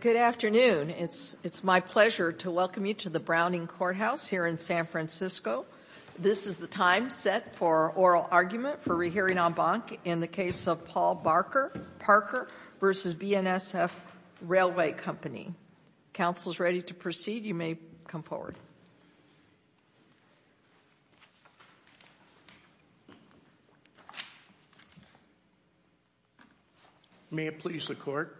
Good afternoon. It's my pleasure to welcome you to the Browning Courthouse here in San Francisco. This is the time set for oral argument for rehearing en banc in the case of Paul Parker v. BNSF Railway Company. Council is ready to proceed. You may come forward. May it please the court.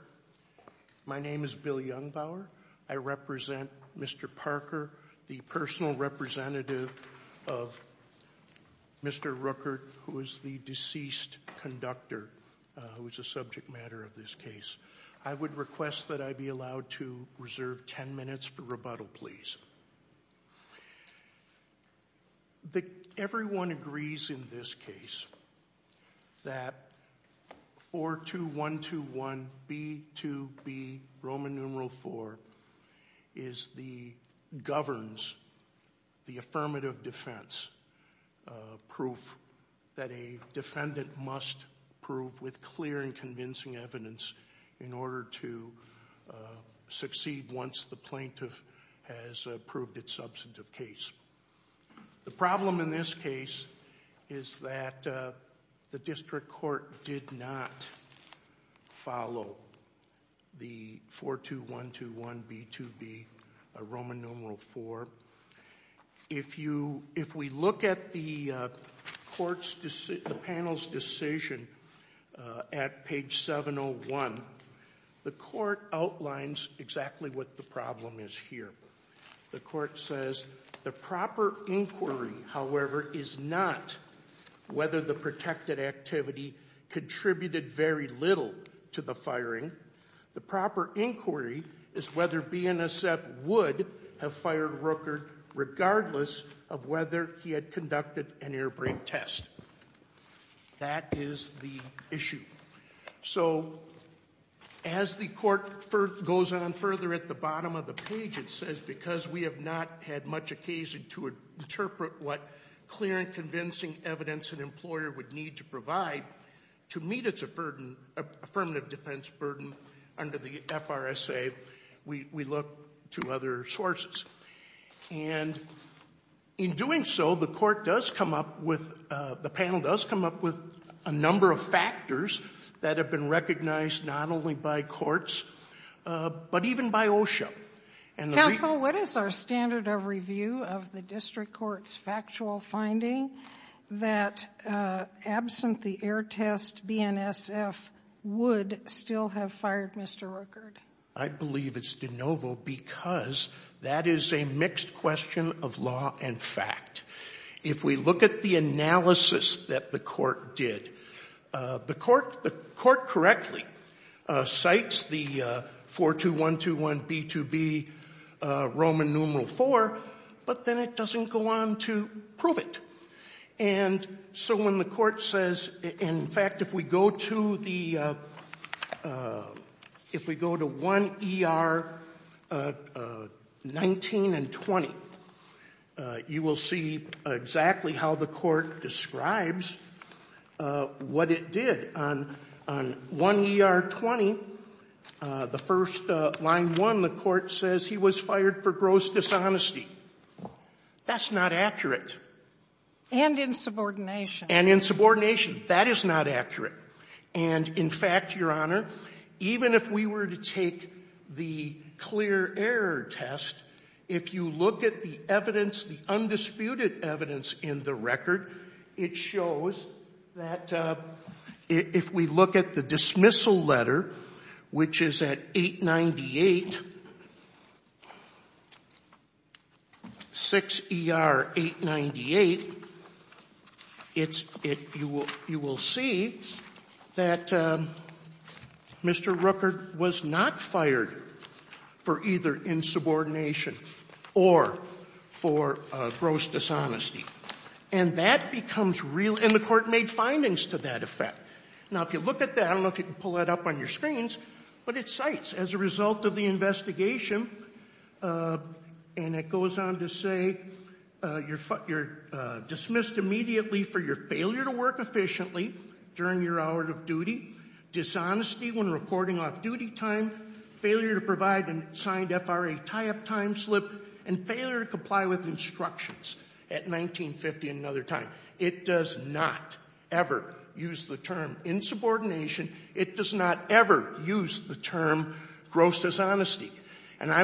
My name is Bill Jungbauer. I represent Mr. Parker, the personal representative of Mr. Rueckert, who is the deceased conductor, who is a subject matter of this case. I would request that I be allowed to reserve ten minutes for rebuttal, please. Everyone agrees in this case that 42121B2B, Roman numeral 4, is the, governs the affirmative defense, proof that a defendant must prove with clear and convincing evidence in order to succeed once the plaintiff has proved its substantive case. The problem in this case is that the district court did not follow the 42121B2B, Roman numeral 4. If we look at the panel's decision at page 701, the court outlines exactly what the problem is here. The court says the proper inquiry, however, is not whether the protected activity contributed very little to the firing. The proper inquiry is whether BNSF would have fired Rueckert regardless of whether he had conducted an airbrake test. That is the issue. So, as the court goes on further at the bottom of the page, it says because we have not had much occasion to interpret what clear and convincing evidence an employer would need to provide to meet its affirmative defense burden under the FRSA, we look to other sources. And in doing so, the court does come up with, the panel does come up with a number of factors that have been recognized not only by courts, but even by OSHA. Counsel, what is our standard of review of the district court's factual finding that absent the air test, BNSF would still have fired Mr. Rueckert? I believe it's de novo because that is a mixed question of law and fact. If we look at the analysis that the court did, the court correctly cites the 42121B2B Roman numeral IV, but then it doesn't go on to prove it. And so when the court says, in fact, if we go to the, if we go to 1ER19 and 20, you will see exactly how the court describes what it did. On 1ER20, the first line one, the court says he was fired for gross dishonesty. That's not accurate. And insubordination. And insubordination. That is not accurate. And, in fact, Your Honor, even if we were to take the clear error test, if you look at the evidence, the undisputed evidence in the record, it shows that if we look at the dismissal letter, which is at 898, 6ER898, it's, you will see that Mr. Rueckert was not fired for either insubordination or for gross dishonesty. And that becomes real, and the court made findings to that effect. Now, if you look at that, I don't know if you can pull that up on your screens, but it cites, as a result of the investigation, and it goes on to say, you're dismissed immediately for your failure to work efficiently during your hour of duty, dishonesty when recording off-duty time, failure to provide an assigned FRA tie-up time slip, and failure to comply with instructions at 19.50 and another time. It does not ever use the term insubordination. It does not ever use the term gross dishonesty. And I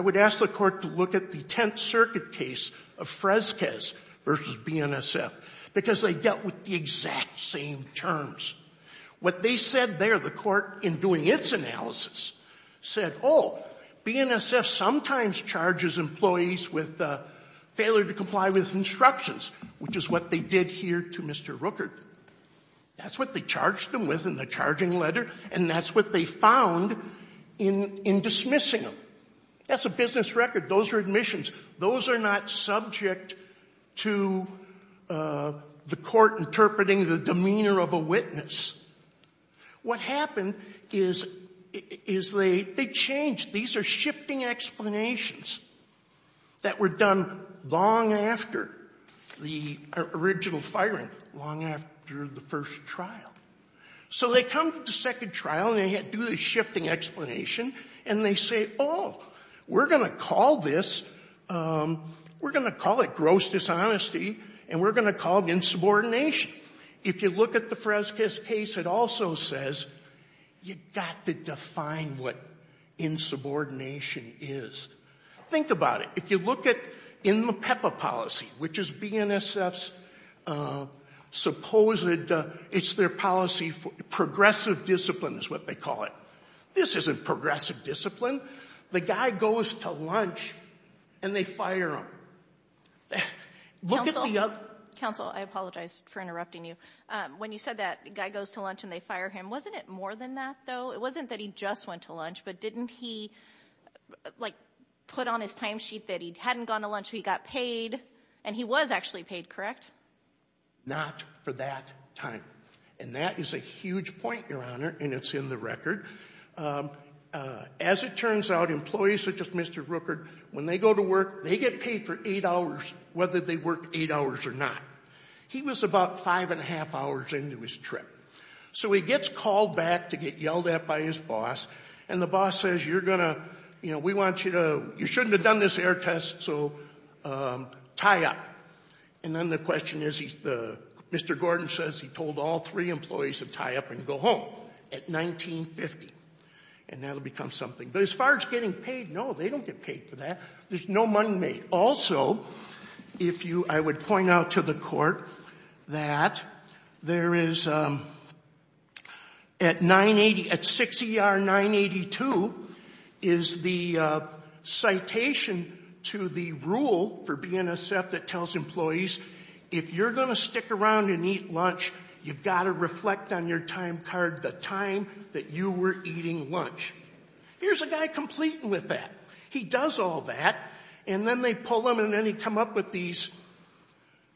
would ask the Court to look at the Tenth Circuit case of Fresquez v. BNSF, because they dealt with the exact same terms. What they said there, the Court, in doing its analysis, said, oh, BNSF sometimes charges employees with failure to comply with instructions, which is what they did here to Mr. Rookert. That's what they charged him with in the charging letter, and that's what they found in dismissing him. That's a business record. Those are admissions. Those are not subject to the court interpreting the demeanor of a witness. What happened is they changed. These are shifting explanations that were done long after the original firing, long after the first trial. So they come to the second trial, and they do the shifting explanation, and they say, oh, we're going to call this gross dishonesty, and we're going to call it insubordination. If you look at the Fresquez case, it also says you've got to define what insubordination is. Think about it. If you look in the PEPA policy, which is BNSF's supposed ‑‑ it's their policy, progressive discipline is what they call it. This isn't progressive discipline. The guy goes to lunch, and they fire him. Look at the other ‑‑ Counsel, I apologize for interrupting you. When you said that the guy goes to lunch, and they fire him, wasn't it more than that, though? It wasn't that he just went to lunch, but didn't he, like, put on his timesheet that he hadn't gone to lunch, he got paid, and he was actually paid, correct? Not for that time. And that is a huge point, Your Honor, and it's in the record. As it turns out, employees such as Mr. Rooker, when they go to work, they get paid for eight hours whether they work eight hours or not. He was about five and a half hours into his trip. So he gets called back to get yelled at by his boss, and the boss says, you're going to ‑‑ we want you to ‑‑ you shouldn't have done this error test, so tie up. And then the question is, Mr. Gordon says he told all three employees to tie up and go home at 19.50, and that will become something. But as far as getting paid, no, they don't get paid for that. There's no money made. Also, if you ‑‑ I would point out to the court that there is, at 6ER 982, is the citation to the rule for BNSF that tells employees, if you're going to stick around and eat lunch, you've got to reflect on your time card the time that you were eating lunch. Here's a guy completing with that. He does all that, and then they pull him, and then he comes up with these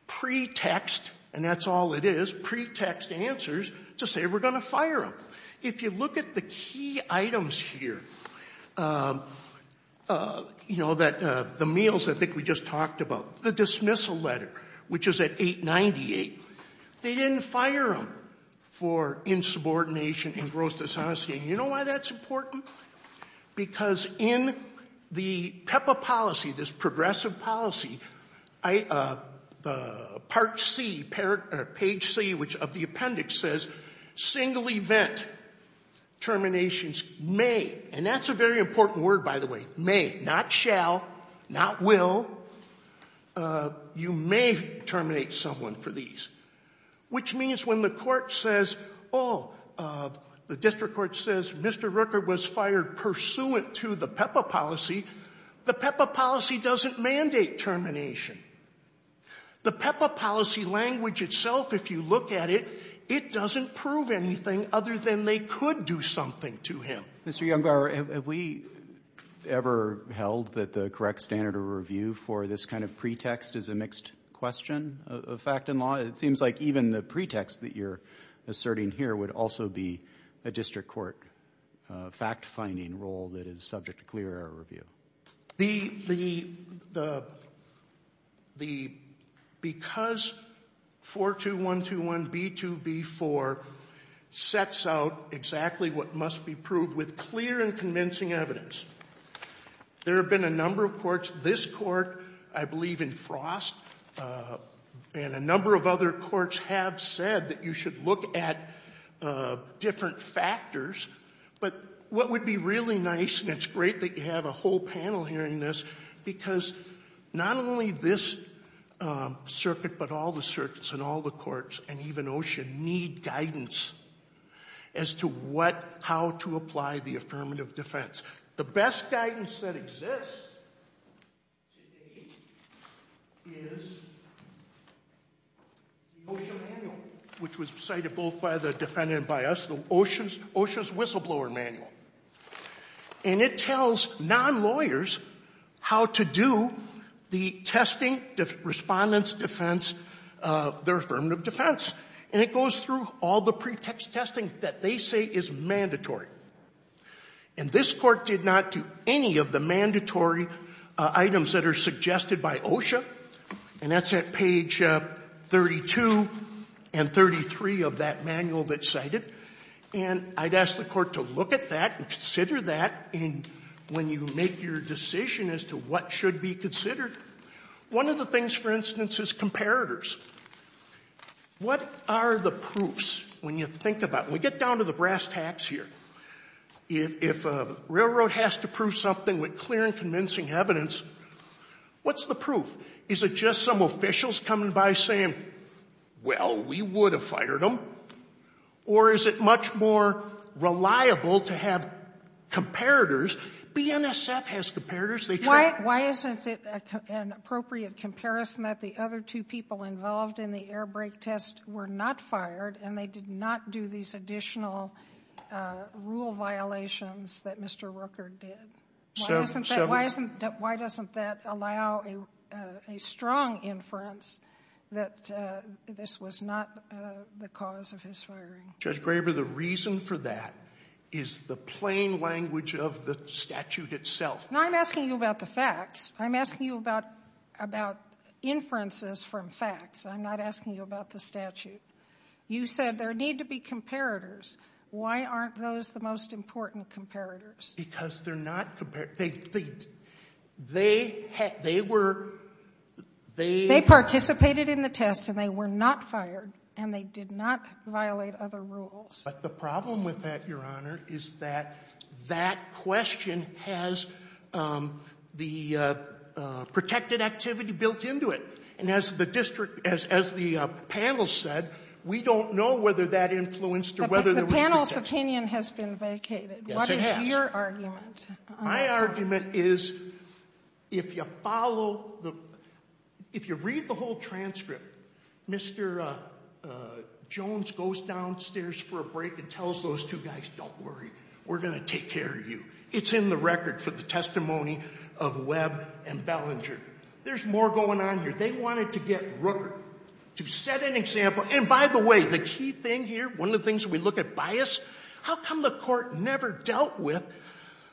pretext, and that's all it is, pretext answers to say we're going to fire him. If you look at the key items here, you know, the meals I think we just talked about, the dismissal letter, which is at 898, they didn't fire him for insubordination and gross dishonesty. And you know why that's important? Because in the PEPA policy, this progressive policy, part C, page C of the appendix says single event terminations may, and that's a very important word, by the way, may, not shall, not will, you may terminate someone for these, which means when the court says, oh, the district court says, Mr. Rooker was fired pursuant to the PEPA policy, the PEPA policy doesn't mandate termination. The PEPA policy language itself, if you look at it, it doesn't prove anything other than they could do something to him. Mr. Younggar, have we ever held that the correct standard of review for this kind of pretext is a mixed question of fact and law? It seems like even the pretext that you're asserting here would also be a district court fact-finding role that is subject to clear error review. The — the — the — because 42121B2B4 sets out exactly what must be proved with clear and convincing evidence, there have been a number of courts, this Court, I believe in Frost, and a number of other courts have said that you should look at different factors, but what would be really nice, and it's great that you have a whole panel hearing this, because not only this circuit, but all the circuits and all the courts, and even OSHA, need guidance as to what, how to apply the affirmative defense. The best guidance that exists today is the OSHA manual, which was cited both by the defendant and by us, the OSHA's — OSHA's whistleblower manual. And it tells non-lawyers how to do the testing, the Respondent's defense, their affirmative defense. And it goes through all the pretext testing that they say is mandatory. And this Court did not do any of the mandatory items that are suggested by OSHA, and that's at page 32 and 33 of that manual that's cited. And I'd ask the Court to look at that and consider that in — when you make your decision as to what should be considered. One of the things, for instance, is comparators. What are the proofs, when you think about — when we get down to the brass tacks here, if a railroad has to prove something with clear and convincing evidence, what's the proof? Is it just some officials coming by saying, well, we would have fired them, or is it much more reliable to have comparators? BNSF has comparators. They try — Sotomayor, why isn't it an appropriate comparison that the other two people involved in the air brake test were not fired, and they did not do these additional rule violations that Mr. Rooker did? Why isn't that — why doesn't that allow a strong inference that this was not the cause of his firing? Judge Graber, the reason for that is the plain language of the statute itself. Now, I'm asking you about the facts. I'm asking you about inferences from facts. I'm not asking you about the statute. You said there need to be comparators. Why aren't those the most important comparators? Because they're not — they were — They participated in the test, and they were not fired, and they did not violate other rules. But the problem with that, Your Honor, is that that question has the protected activity built into it. And as the district — as the panel said, we don't know whether that influenced or whether there was protection. But the panel's opinion has been vacated. Yes, it has. What is your argument? My argument is, if you follow the — if you read the whole transcript, Mr. Jones goes downstairs for a break and tells those two guys, don't worry, we're going to take care of you. It's in the record for the testimony of Webb and Bellinger. There's more going on here. They wanted to get Rooker to set an example. And, by the way, the key thing here, one of the things we look at bias, how come the Court never dealt with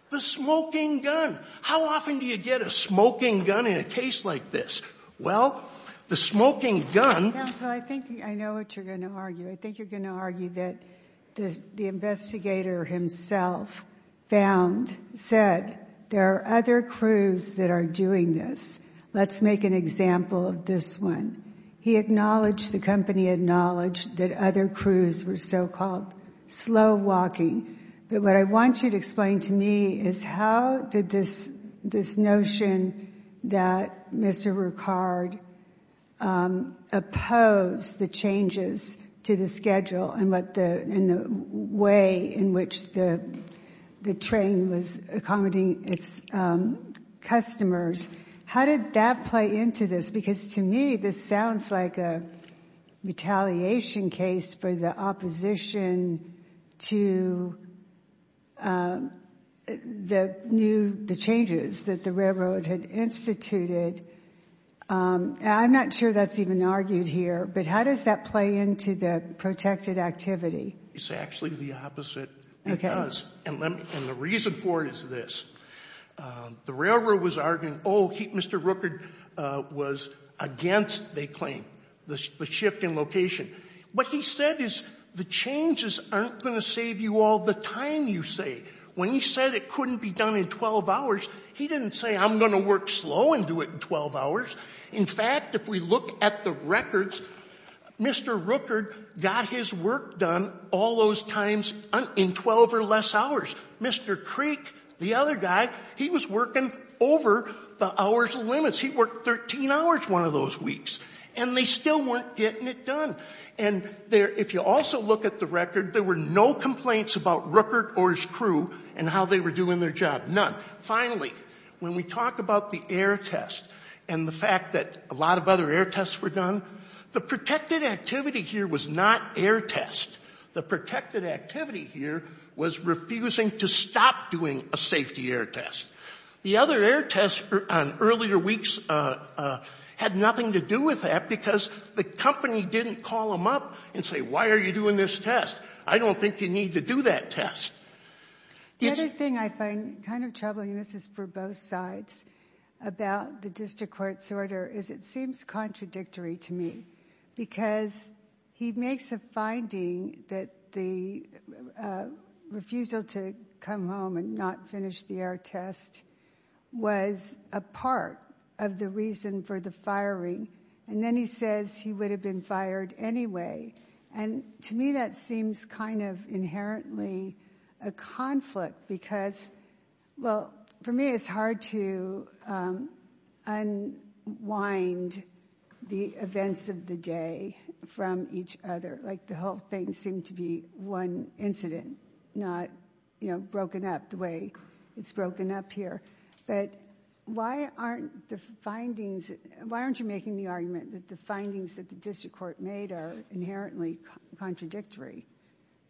the smoking gun? How often do you get a smoking gun in a case like this? Well, the smoking gun — Counsel, I think I know what you're going to argue. I think you're going to argue that the investigator himself found, said, there are other crews that are doing this. Let's make an example of this one. He acknowledged, the company acknowledged, that other crews were so-called slow-walking. But what I want you to explain to me is, how did this notion that Mr. Ricard opposed the changes to the schedule and the way in which the train was accommodating its customers, how did that play into this? Because, to me, this sounds like a retaliation case for the opposition to the new — the changes that the railroad had instituted. I'm not sure that's even argued here. But how does that play into the protected activity? It's actually the opposite. It does. And the reason for it is this. The railroad was arguing, oh, Mr. Ricard was against, they claim, the shift in location. What he said is, the changes aren't going to save you all the time you save. When he said it couldn't be done in 12 hours, he didn't say, I'm going to work slow and do it in 12 hours. In fact, if we look at the records, Mr. Ricard got his work done all those times in 12 or less hours. Mr. Creek, the other guy, he was working over the hours limits. He worked 13 hours one of those weeks. And they still weren't getting it done. And if you also look at the record, there were no complaints about Ricard or his crew and how they were doing their job. None. Finally, when we talk about the air test and the fact that a lot of other air tests were done, the protected activity here was not air test. The protected activity here was refusing to stop doing a safety air test. The other air tests on earlier weeks had nothing to do with that because the company didn't call them up and say, why are you doing this test? I don't think you need to do that test. The other thing I find kind of troubling, and this is for both sides, about the district court's order is it seems contradictory to me because he makes a finding that the refusal to come home and not finish the air test was a part of the reason for the firing. And then he says he would have been fired anyway. And to me, that seems kind of inherently a conflict because, well, for me, it's hard to unwind the events of the day from each other. Like the whole thing seemed to be one incident, not, you know, broken up the way it's broken up here. But why aren't the findings, why aren't you making the argument that the findings that the district court made are inherently contradictory?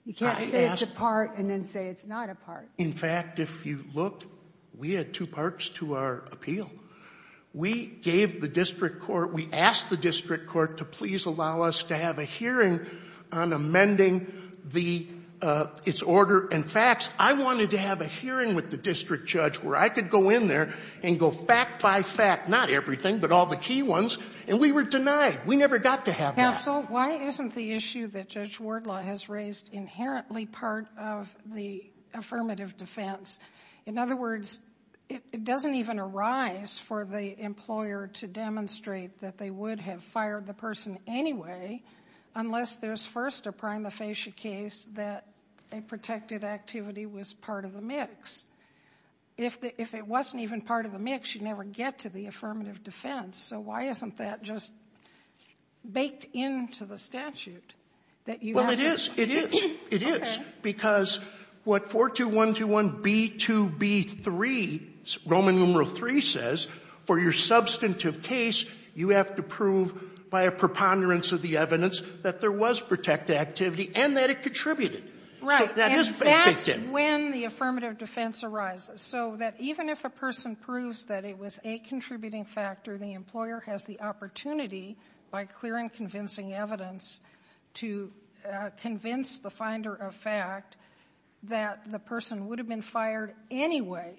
You can't say it's a part and then say it's not a part. In fact, if you look, we had two parts to our appeal. We gave the district court, we asked the district court to please allow us to have a hearing on amending its order. And facts, I wanted to have a hearing with the district judge where I could go in there and go fact by fact, not everything but all the key ones, and we were denied. We never got to have that. Counsel, why isn't the issue that Judge Wardlaw has raised inherently part of the affirmative defense? In other words, it doesn't even arise for the employer to demonstrate that they would have fired the person anyway unless there's first a prima facie case that a protected activity was part of the mix. If it wasn't even part of the mix, you'd never get to the affirmative defense. So why isn't that just baked into the statute that you have? Well, it is. It is. It is. Okay. Because what 42121B2B3, Roman numeral III says, for your substantive case, you have to prove by a preponderance of the evidence that there was protected activity and that it contributed. So that is baked in. And that's when the affirmative defense arises, so that even if a person proves that it was a contributing factor, the employer has the opportunity by clear and convincing evidence to convince the finder of fact that the person would have been fired anyway.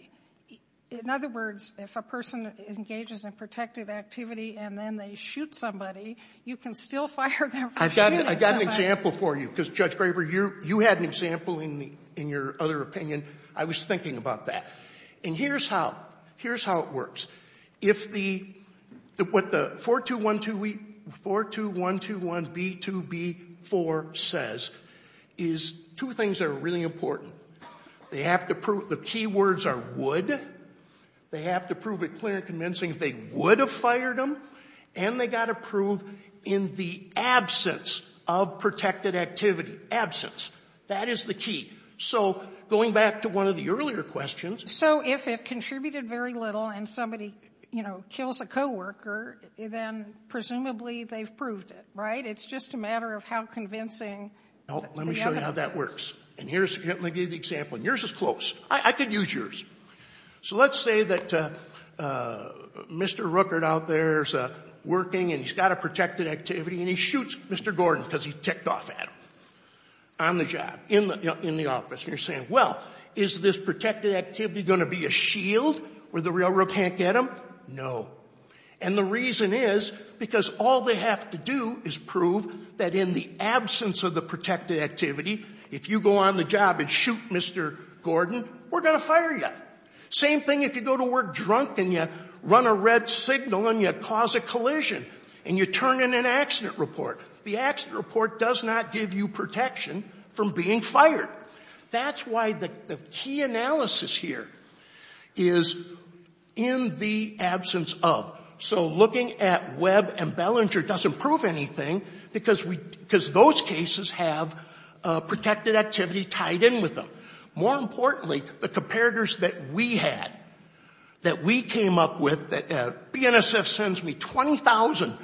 In other words, if a person engages in protected activity and then they shoot somebody, you can still fire them for shooting somebody. I've got an example for you, because, Judge Graber, you had an example in your other opinion. I was thinking about that. And here's how it works. If the — what the 42121B2B4 says is two things that are really important. They have to prove — the key words are would. They have to prove it clear and convincing that they would have fired them. And they've got to prove in the absence of protected activity. Absence. That is the key. So going back to one of the earlier questions. So if it contributed very little and somebody, you know, kills a coworker, then presumably they've proved it, right? It's just a matter of how convincing the evidence is. And here's — let me give you the example. And yours is close. I could use yours. So let's say that Mr. Rookert out there is working and he's got a protected activity and he shoots Mr. Gordon because he ticked off at him on the job, in the office. And you're saying, well, is this protected activity going to be a shield where the railroad can't get him? No. And the reason is because all they have to do is prove that in the absence of the protected activity, if you go on the job and shoot Mr. Gordon, we're going to fire you. Same thing if you go to work drunk and you run a red signal and you cause a collision and you turn in an accident report. The accident report does not give you protection from being fired. That's why the key analysis here is in the absence of. So looking at Webb and Bellinger doesn't prove anything because those cases have protected activity tied in with them. More importantly, the comparators that we had, that we came up with — BNSF sends me 20,000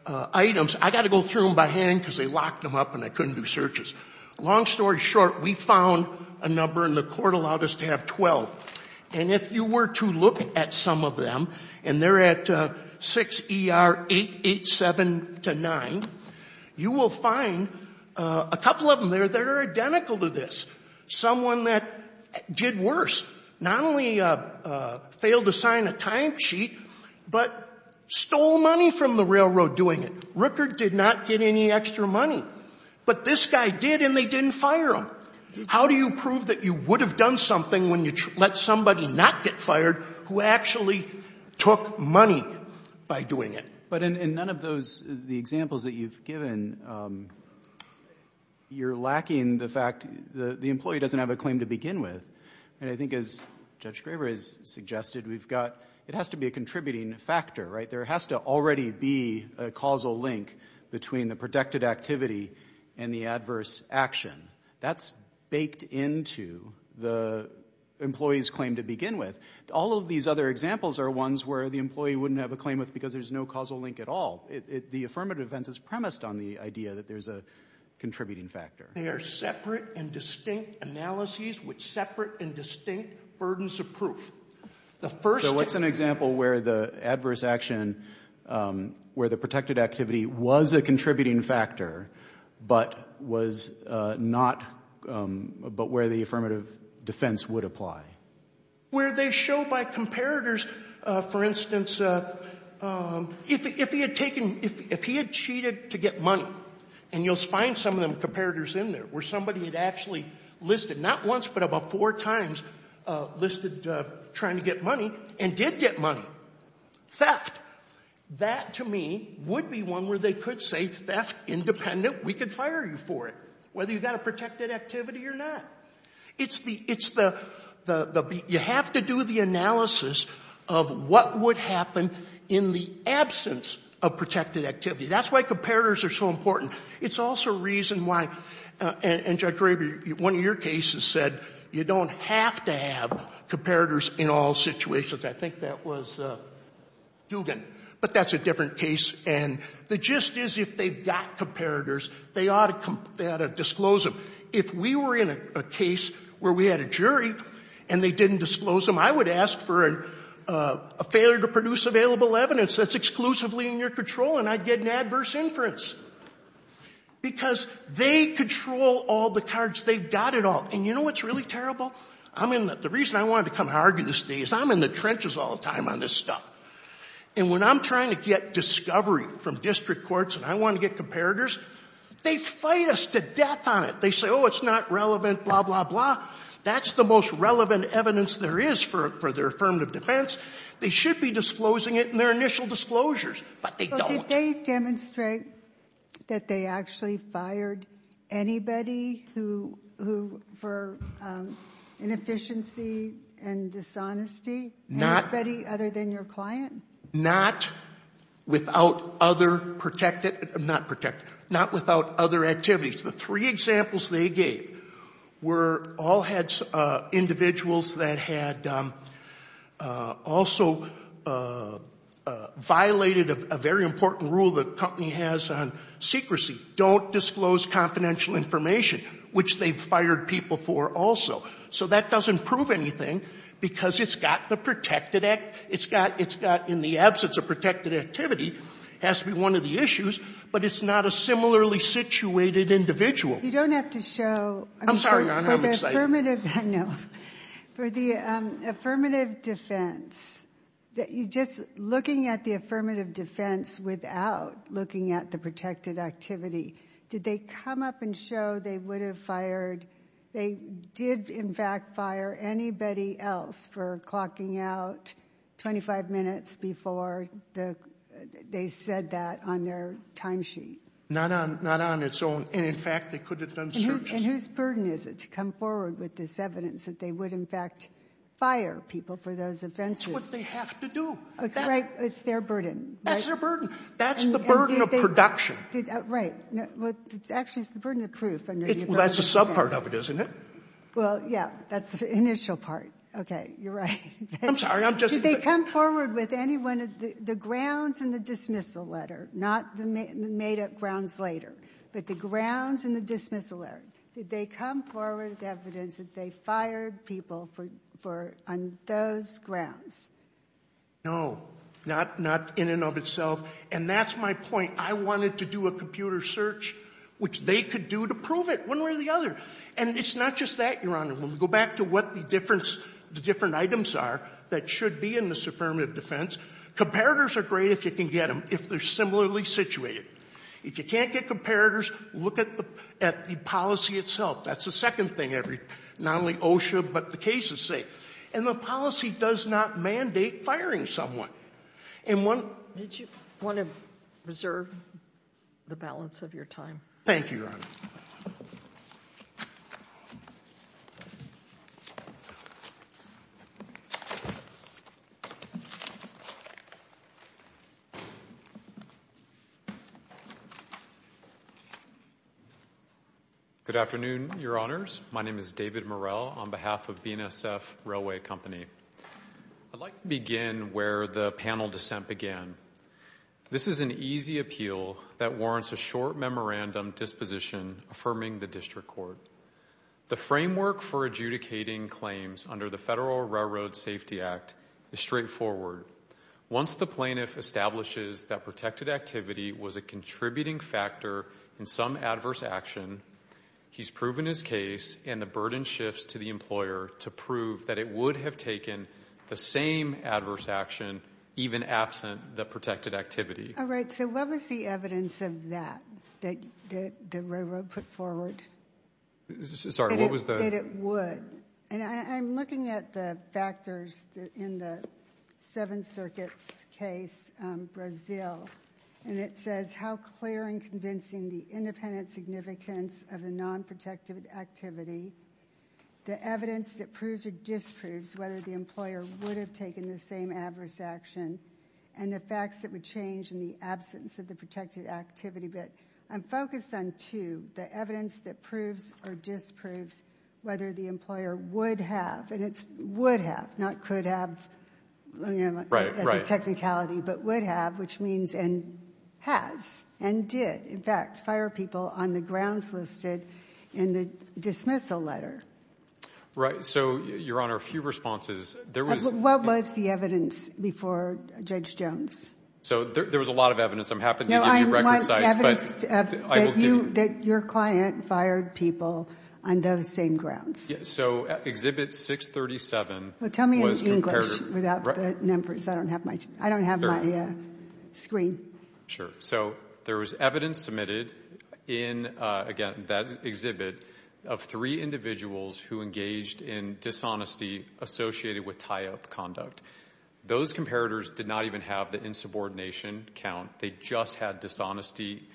items. I've got to go through them by hand because they locked them up and I couldn't do searches. Long story short, we found a number and the court allowed us to have 12. And if you were to look at some of them, and they're at 6ER887-9, you will find a couple of them there that are identical to this. Someone that did worse, not only failed to sign a timesheet, but stole money from the railroad doing it. Rooker did not get any extra money. But this guy did and they didn't fire him. How do you prove that you would have done something when you let somebody not get fired who actually took money by doing it? But in none of those — the examples that you've given, you're lacking the fact — the employee doesn't have a claim to begin with. And I think as Judge Graber has suggested, we've got — it has to be a contributing factor, right? There has to already be a causal link between the protected activity and the adverse action. That's baked into the employee's claim to begin with. All of these other examples are ones where the employee wouldn't have a claim with because there's no causal link at all. The affirmative defense is premised on the idea that there's a contributing factor. They are separate and distinct analyses with separate and distinct burdens of proof. The first — So what's an example where the adverse action, where the protected activity was a contributing factor, but was not — but where the affirmative defense would apply? Where they show by comparators, for instance, if he had taken — if he had cheated to get money, and you'll find some of them, comparators in there, where somebody had actually listed, not once, but about four times, listed trying to get money and did get money. Theft. That, to me, would be one where they could say, theft independent, we could fire you for it, whether you've got a protected activity or not. It's the — it's the — you have to do the analysis of what would happen in the absence of protected activity. That's why comparators are so important. It's also a reason why — and, Judge Graber, one of your cases said you don't have to have comparators in all situations. I think that was Dugan. But that's a different case. And the gist is, if they've got comparators, they ought to disclose them. If we were in a case where we had a jury and they didn't disclose them, I would ask for a failure to produce available evidence that's exclusively in your control, and I'd get an adverse inference. Because they control all the cards. They've got it all. And you know what's really terrible? I'm in the — the reason I wanted to come and argue this today is I'm in the trenches all the time on this stuff. And when I'm trying to get discovery from district courts and I want to get comparators, they fight us to death on it. They say, oh, it's not relevant, blah, blah, blah. That's the most relevant evidence there is for their affirmative defense. They should be disclosing it in their initial disclosures, but they don't. Did they demonstrate that they actually fired anybody who — for inefficiency and dishonesty? Not — Anybody other than your client? Not without other protected — not protected. Not without other activities. The three examples they gave were — all had individuals that had also violated a very important rule the company has on secrecy. Don't disclose confidential information, which they've fired people for also. So that doesn't prove anything because it's got the protected — it's got, in the absence of protected activity, has to be one of the issues. But it's not a similarly situated individual. You don't have to show — I'm sorry, Your Honor, I'm excited. No. For the affirmative defense, just looking at the affirmative defense without looking at the protected activity, did they come up and show they would have fired — they did, in fact, fire anybody else for clocking out 25 minutes before the — they said that on their timesheet. Not on — not on its own. And, in fact, they could have done searches. And whose burden is it to come forward with this evidence that they would, in fact, fire people for those offenses? It's what they have to do. Right. It's their burden. That's their burden. That's the burden of production. Right. Well, actually, it's the burden of proof under the affirmative defense. Well, that's a subpart of it, isn't it? Well, yeah. That's the initial part. Okay. You're right. I'm sorry, I'm just — Did they come forward with any one of the grounds in the dismissal letter, not the made-up grounds later, but the grounds in the dismissal letter? Did they come forward with evidence that they fired people for — on those grounds? No. Not — not in and of itself. And that's my point. I wanted to do a computer search, which they could do to prove it, one way or the other. And it's not just that, Your Honor. When we go back to what the difference — the different items are that should be in this affirmative defense, comparators are great if you can get them, if they're similarly situated. If you can't get comparators, look at the — at the policy itself. That's the second thing every — not only OSHA, but the cases say. And the policy does not mandate firing someone. And one — Did you want to reserve the balance of your time? Thank you, Your Honor. Good afternoon, Your Honors. My name is David Morell on behalf of BNSF Railway Company. I'd like to begin where the panel dissent began. This is an easy appeal that warrants a short memorandum disposition affirming the district court. The framework for adjudicating claims under the Federal Railroad Safety Act is straightforward. Once the plaintiff establishes that protected activity was a contributing factor in some adverse action, he's proven his case and the burden shifts to the employer to prove that it would have taken the same adverse action even absent the protected activity. All right. So what was the evidence of that that the railroad put forward? Sorry, what was the — That it would. And I'm looking at the factors in the Seventh Circuit's case, Brazil, and it says how clear and convincing the independent significance of a nonprotected activity, the evidence that proves or disproves whether the employer would have taken the same adverse action, and the facts that would change in the absence of the protected activity. But I'm focused on two, the evidence that proves or disproves whether the employer would have, and it's would have, not could have as a technicality, but would have, which means and has and did, in fact, fire people on the grounds listed in the dismissal letter. Right. So, Your Honor, a few responses. What was the evidence before Judge Jones? So there was a lot of evidence. No, I want evidence that your client fired people on those same grounds. So Exhibit 637 was compared — Well, tell me in English without the numbers. I don't have my screen. Sure. So there was evidence submitted in, again, that exhibit, of three individuals who engaged in dishonesty associated with tie-up conduct. Those comparators did not even have the insubordination count. They just had dishonesty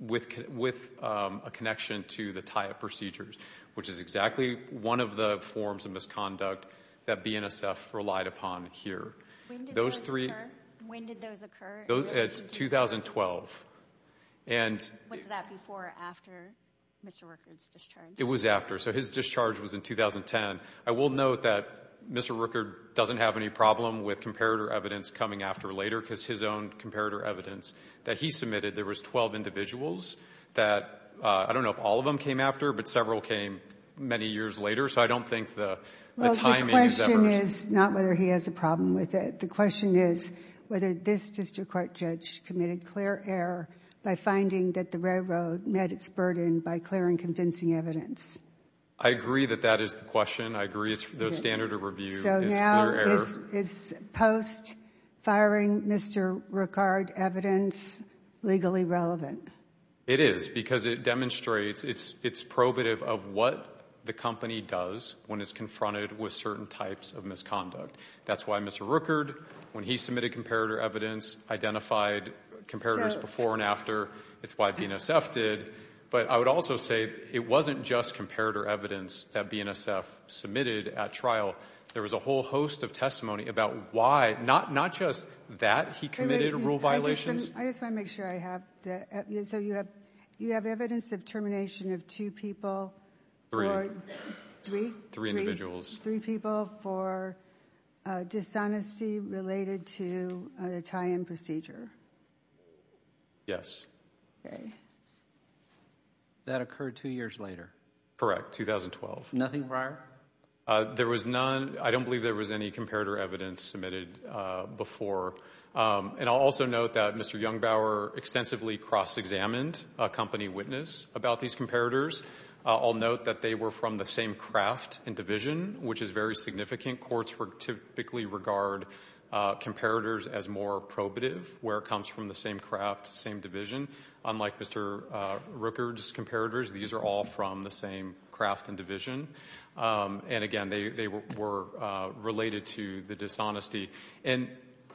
with a connection to the tie-up procedures, which is exactly one of the forms of misconduct that BNSF relied upon here. When did those occur? In 2012. Was that before or after Mr. Rueckert's discharge? It was after. So his discharge was in 2010. I will note that Mr. Rueckert doesn't have any problem with comparator evidence coming after later because his own comparator evidence that he submitted, there was 12 individuals that, I don't know if all of them came after, but several came many years later. So I don't think the timing is ever— Well, the question is not whether he has a problem with it. The question is whether this district court judge committed clear error by finding that the railroad met its burden by clearing convincing evidence. I agree that that is the question. I agree the standard of review is clear error. So now is post-firing Mr. Rueckert evidence legally relevant? It is because it demonstrates, it's probative of what the company does when it's confronted with certain types of misconduct. That's why Mr. Rueckert, when he submitted comparator evidence, identified comparators before and after. It's why BNSF did. But I would also say it wasn't just comparator evidence that BNSF submitted at trial. There was a whole host of testimony about why, not just that he committed rule violations. I just want to make sure I have that. So you have evidence of termination of two people? Three? Three individuals. Three people for dishonesty related to the tie-in procedure? Yes. Okay. That occurred two years later? Correct, 2012. Nothing prior? There was none. I don't believe there was any comparator evidence submitted before. And I'll also note that Mr. Jungbauer extensively cross-examined a company witness about these comparators. I'll note that they were from the same craft and division, which is very significant. Courts typically regard comparators as more probative, where it comes from the same craft, same division. Unlike Mr. Rooker's comparators, these are all from the same craft and division. And, again, they were related to the dishonesty. And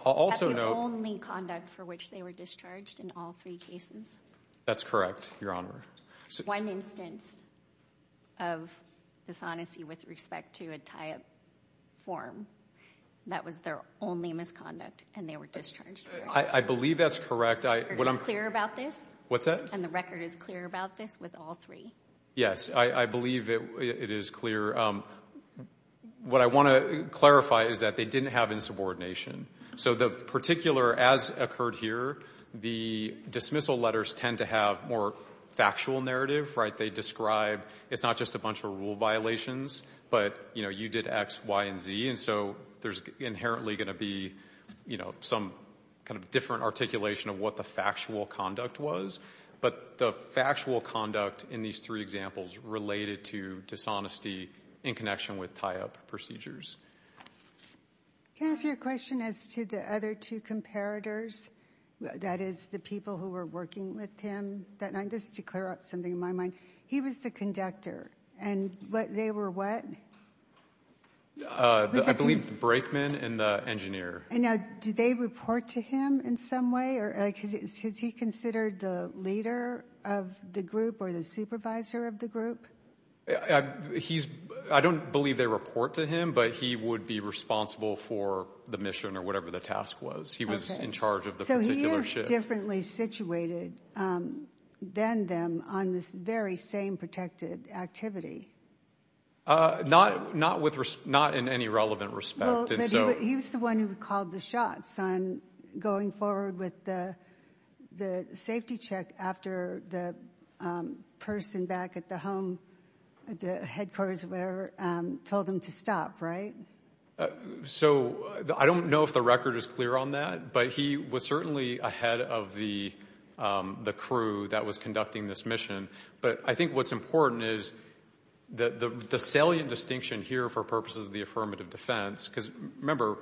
I'll also note— That's the only conduct for which they were discharged in all three cases? That's correct, Your Honor. One instance of dishonesty with respect to a tie-up form, that was their only misconduct, and they were discharged. I believe that's correct. The record is clear about this? What's that? And the record is clear about this with all three? Yes, I believe it is clear. What I want to clarify is that they didn't have insubordination. So the particular, as occurred here, the dismissal letters tend to have more factual narrative. They describe, it's not just a bunch of rule violations, but, you know, you did X, Y, and Z. And so there's inherently going to be, you know, some kind of different articulation of what the factual conduct was. But the factual conduct in these three examples related to dishonesty in connection with tie-up procedures. Can I ask you a question as to the other two comparators? That is, the people who were working with him that night? Just to clear up something in my mind. He was the conductor, and they were what? I believe the brakeman and the engineer. Now, do they report to him in some way? Has he considered the leader of the group or the supervisor of the group? I don't believe they report to him, but he would be responsible for the mission or whatever the task was. He was in charge of the particular shift. So he is differently situated than them on this very same protected activity. Not in any relevant respect. Well, he was the one who called the shots on going forward with the safety check after the person back at the headquarters or whatever told him to stop, right? So I don't know if the record is clear on that, but he was certainly ahead of the crew that was conducting this mission. But I think what's important is the salient distinction here for purposes of the affirmative defense, because remember,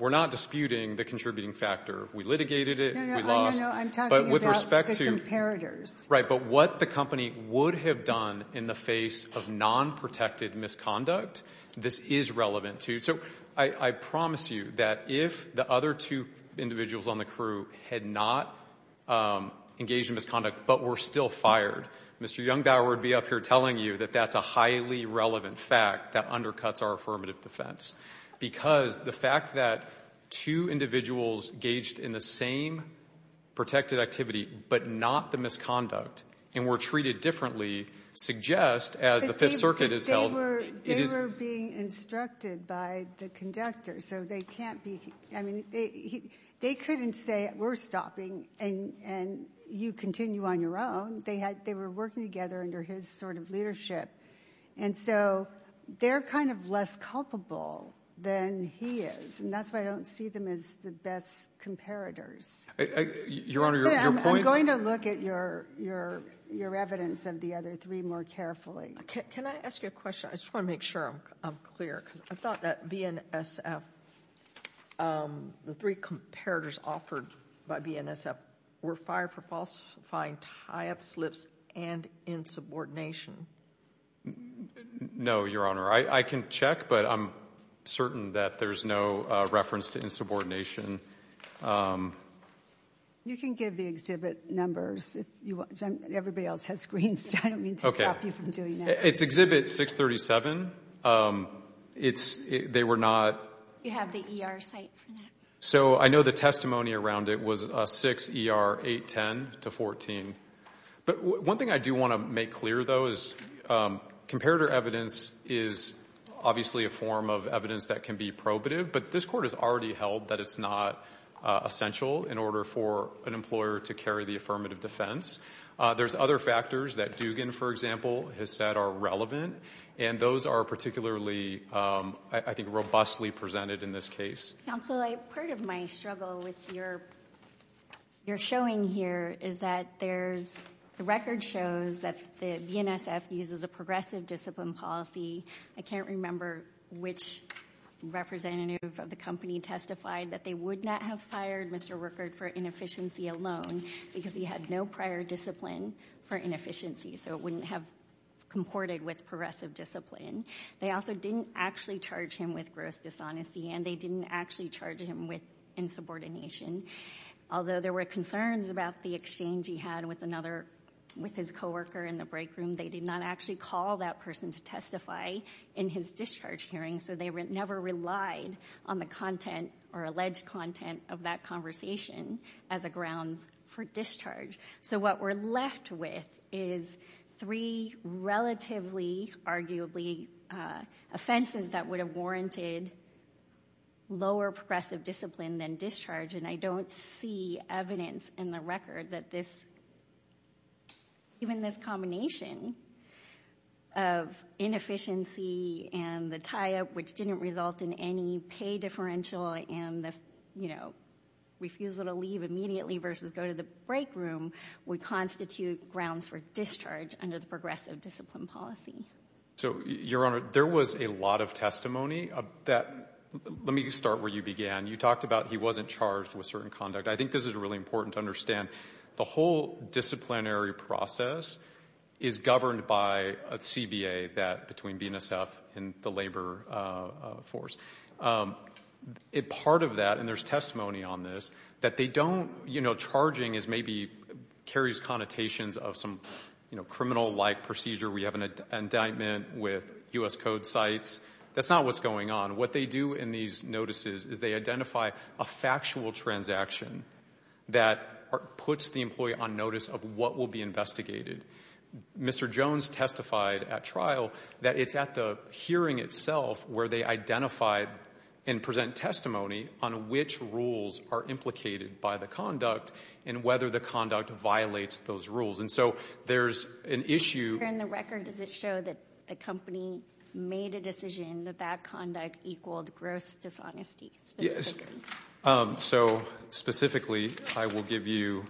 we're not disputing the contributing factor. We litigated it. No, no, no. I'm talking about the comparators. Right, but what the company would have done in the face of non-protected misconduct, this is relevant to. So I promise you that if the other two individuals on the crew had not engaged in misconduct but were still fired, Mr. Jungbauer would be up here telling you that that's a highly relevant fact that undercuts our affirmative defense. Because the fact that two individuals engaged in the same protected activity but not the misconduct and were treated differently suggests, as the Fifth Circuit has held. They were being instructed by the conductor, so they can't be. I mean, they couldn't say we're stopping and you continue on your own. They were working together under his sort of leadership. And so they're kind of less culpable than he is, and that's why I don't see them as the best comparators. Your Honor, your points? I'm going to look at your evidence of the other three more carefully. Can I ask you a question? I just want to make sure I'm clear because I thought that BNSF, the three comparators offered by BNSF, were fired for falsifying tie-up slips and insubordination. No, Your Honor. I can check, but I'm certain that there's no reference to insubordination. You can give the exhibit numbers if you want. Everybody else has screens, so I don't mean to stop you from doing that. It's Exhibit 637. It's they were not. You have the ER site for that. So I know the testimony around it was 6ER810-14. But one thing I do want to make clear, though, is comparator evidence is obviously a form of evidence that can be probative, but this Court has already held that it's not essential in order for an employer to carry the affirmative defense. There's other factors that Dugan, for example, has said are relevant, and those are particularly, I think, robustly presented in this case. Counsel, part of my struggle with your showing here is that the record shows that the BNSF uses a progressive discipline policy. I can't remember which representative of the company testified that they would not have fired Mr. Rueckert for inefficiency alone because he had no prior discipline for inefficiency, so it wouldn't have comported with progressive discipline. They also didn't actually charge him with gross dishonesty, and they didn't actually charge him with insubordination. Although there were concerns about the exchange he had with his coworker in the break room, they did not actually call that person to testify in his discharge hearing, so they never relied on the content or alleged content of that conversation as a grounds for discharge. So what we're left with is three relatively, arguably, offenses that would have warranted lower progressive discipline than discharge, and I don't see evidence in the record that even this combination of inefficiency and the tie-up, which didn't result in any pay differential and the refusal to leave immediately versus go to the break room, would constitute grounds for discharge under the progressive discipline policy. So, Your Honor, there was a lot of testimony of that. Let me start where you began. You talked about he wasn't charged with certain conduct. I think this is really important to understand. The whole disciplinary process is governed by a CBA between BNSF and the labor force. Part of that, and there's testimony on this, that they don't, you know, charging maybe carries connotations of some criminal-like procedure. We have an indictment with U.S. Code sites. That's not what's going on. What they do in these notices is they identify a factual transaction that puts the employee on notice of what will be investigated. Mr. Jones testified at trial that it's at the hearing itself where they identify and present testimony on which rules are implicated by the conduct and whether the conduct violates those rules. And so there's an issue. Here in the record, does it show that the company made a decision that that conduct equaled gross dishonesty specifically? So, specifically, I will give you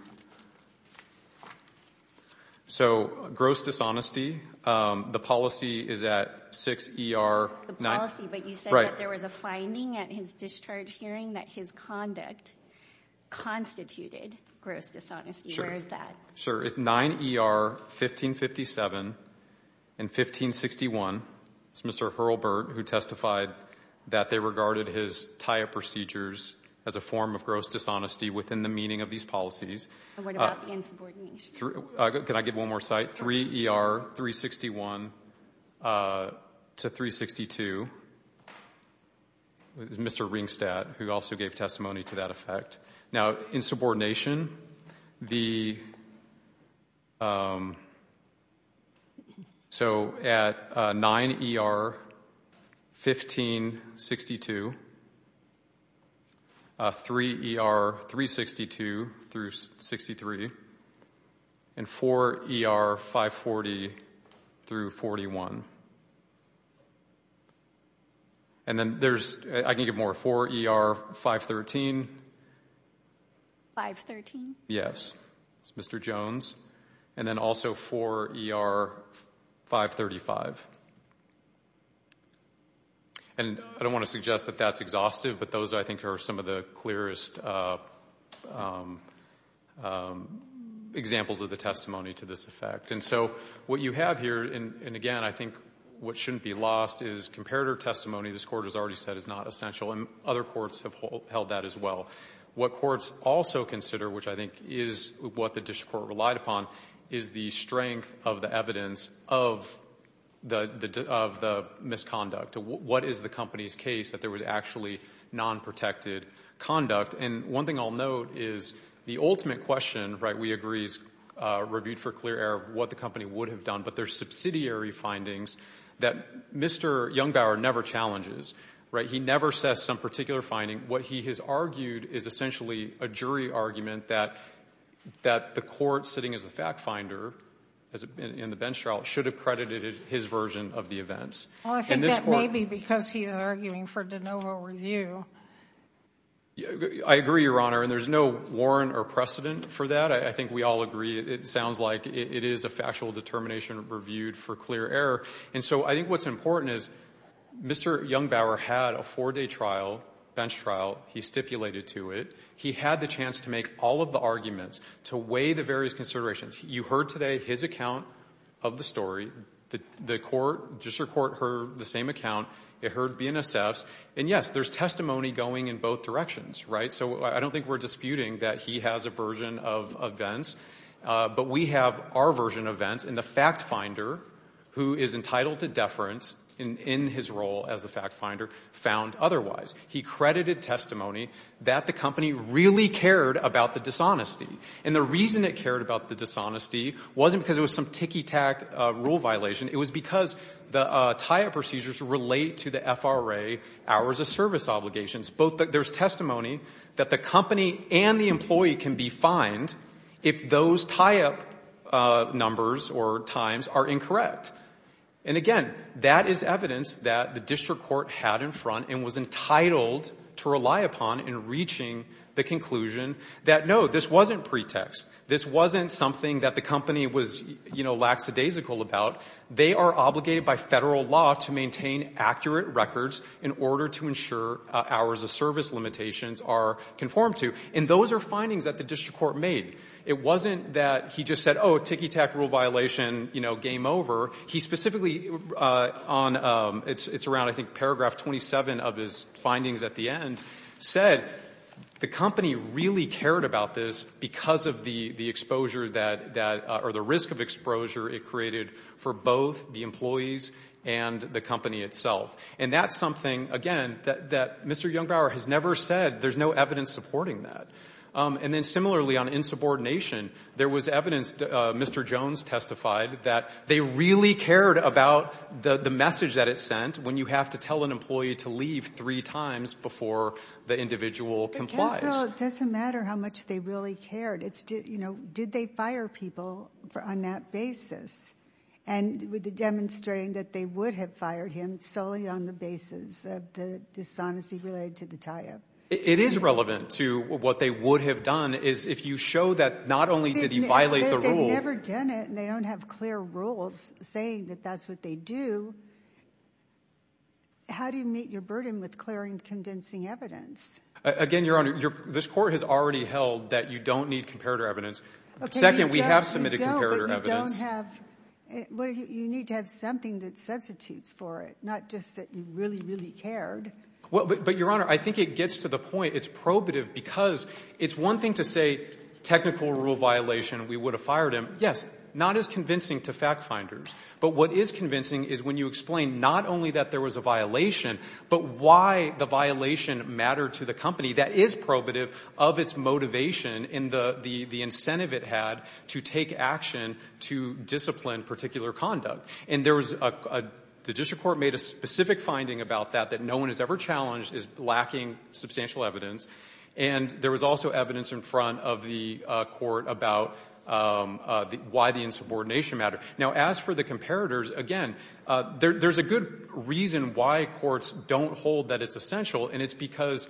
gross dishonesty. The policy is at 6 ER 9. The policy, but you said that there was a finding at his discharge hearing that his conduct constituted gross dishonesty. Sure. Where is that? Sir, it's 9 ER 1557 and 1561. It's Mr. Hurlburt who testified that they regarded his TIA procedures as a form of gross dishonesty within the meaning of these policies. And what about the insubordination? Can I give one more site? 3 ER 361 to 362, Mr. Ringstadt, who also gave testimony to that effect. Now, insubordination, so at 9 ER 1562, 3 ER 362 through 63, and 4 ER 540 through 41. And then there's, I can give more, 4 ER 513. 513? Yes. It's Mr. Jones. And then also 4 ER 535. And I don't want to suggest that that's exhaustive, but those I think are some of the clearest examples of the testimony to this effect. And so what you have here, and again, I think what shouldn't be lost is comparator testimony, this Court has already said is not essential, and other courts have held that as well. What courts also consider, which I think is what the district court relied upon, is the strength of the evidence of the misconduct. What is the company's case that there was actually non-protected conduct? And one thing I'll note is the ultimate question, right, I think everybody agrees, reviewed for clear air, what the company would have done, but there's subsidiary findings that Mr. Jungbauer never challenges, right? He never says some particular finding. What he has argued is essentially a jury argument that the court, sitting as the fact finder in the bench trial, should have credited his version of the events. Well, I think that may be because he is arguing for de novo review. I agree, Your Honor, and there's no warrant or precedent for that. I think we all agree it sounds like it is a factual determination reviewed for clear air. And so I think what's important is Mr. Jungbauer had a four-day trial, bench trial. He stipulated to it. He had the chance to make all of the arguments, to weigh the various considerations. You heard today his account of the story. The district court heard the same account. It heard BNSF's. And, yes, there's testimony going in both directions, right? So I don't think we're disputing that he has a version of events. But we have our version of events, and the fact finder, who is entitled to deference in his role as the fact finder, found otherwise. He credited testimony that the company really cared about the dishonesty. And the reason it cared about the dishonesty wasn't because it was some ticky-tack rule violation. It was because the tie-up procedures relate to the FRA hours of service obligations. There's testimony that the company and the employee can be fined if those tie-up numbers or times are incorrect. And, again, that is evidence that the district court had in front and was entitled to rely upon in reaching the conclusion that, no, this wasn't pretext. This wasn't something that the company was, you know, lackadaisical about. They are obligated by federal law to maintain accurate records in order to ensure hours of service limitations are conformed to. And those are findings that the district court made. It wasn't that he just said, oh, ticky-tack rule violation, you know, game over. He specifically, it's around, I think, paragraph 27 of his findings at the end, said the company really cared about this because of the exposure that, or the risk of exposure it created for both the employees and the company itself. And that's something, again, that Mr. Jungbauer has never said. There's no evidence supporting that. And then, similarly, on insubordination, there was evidence, Mr. Jones testified, that they really cared about the message that it sent when you have to tell an employee to leave three times before the individual complies. The counsel, it doesn't matter how much they really cared. It's, you know, did they fire people on that basis? And with the demonstrating that they would have fired him solely on the basis of the dishonesty related to the tie-up. It is relevant to what they would have done is if you show that not only did he violate the rule. If they've never done it and they don't have clear rules saying that that's what they do, how do you meet your burden with clearing convincing evidence? Again, Your Honor, this court has already held that you don't need comparator evidence. Second, we have submitted comparator evidence. Okay, but you don't have, you need to have something that substitutes for it, not just that you really, really cared. But, Your Honor, I think it gets to the point, it's probative because it's one thing to say technical rule violation, we would have fired him. Yes, not as convincing to fact finders. But what is convincing is when you explain not only that there was a violation, but why the violation mattered to the company. That is probative of its motivation and the incentive it had to take action to discipline particular conduct. And there was a, the district court made a specific finding about that, that no one has ever challenged is lacking substantial evidence. And there was also evidence in front of the court about why the insubordination mattered. Now, as for the comparators, again, there's a good reason why courts don't hold that it's essential, and it's because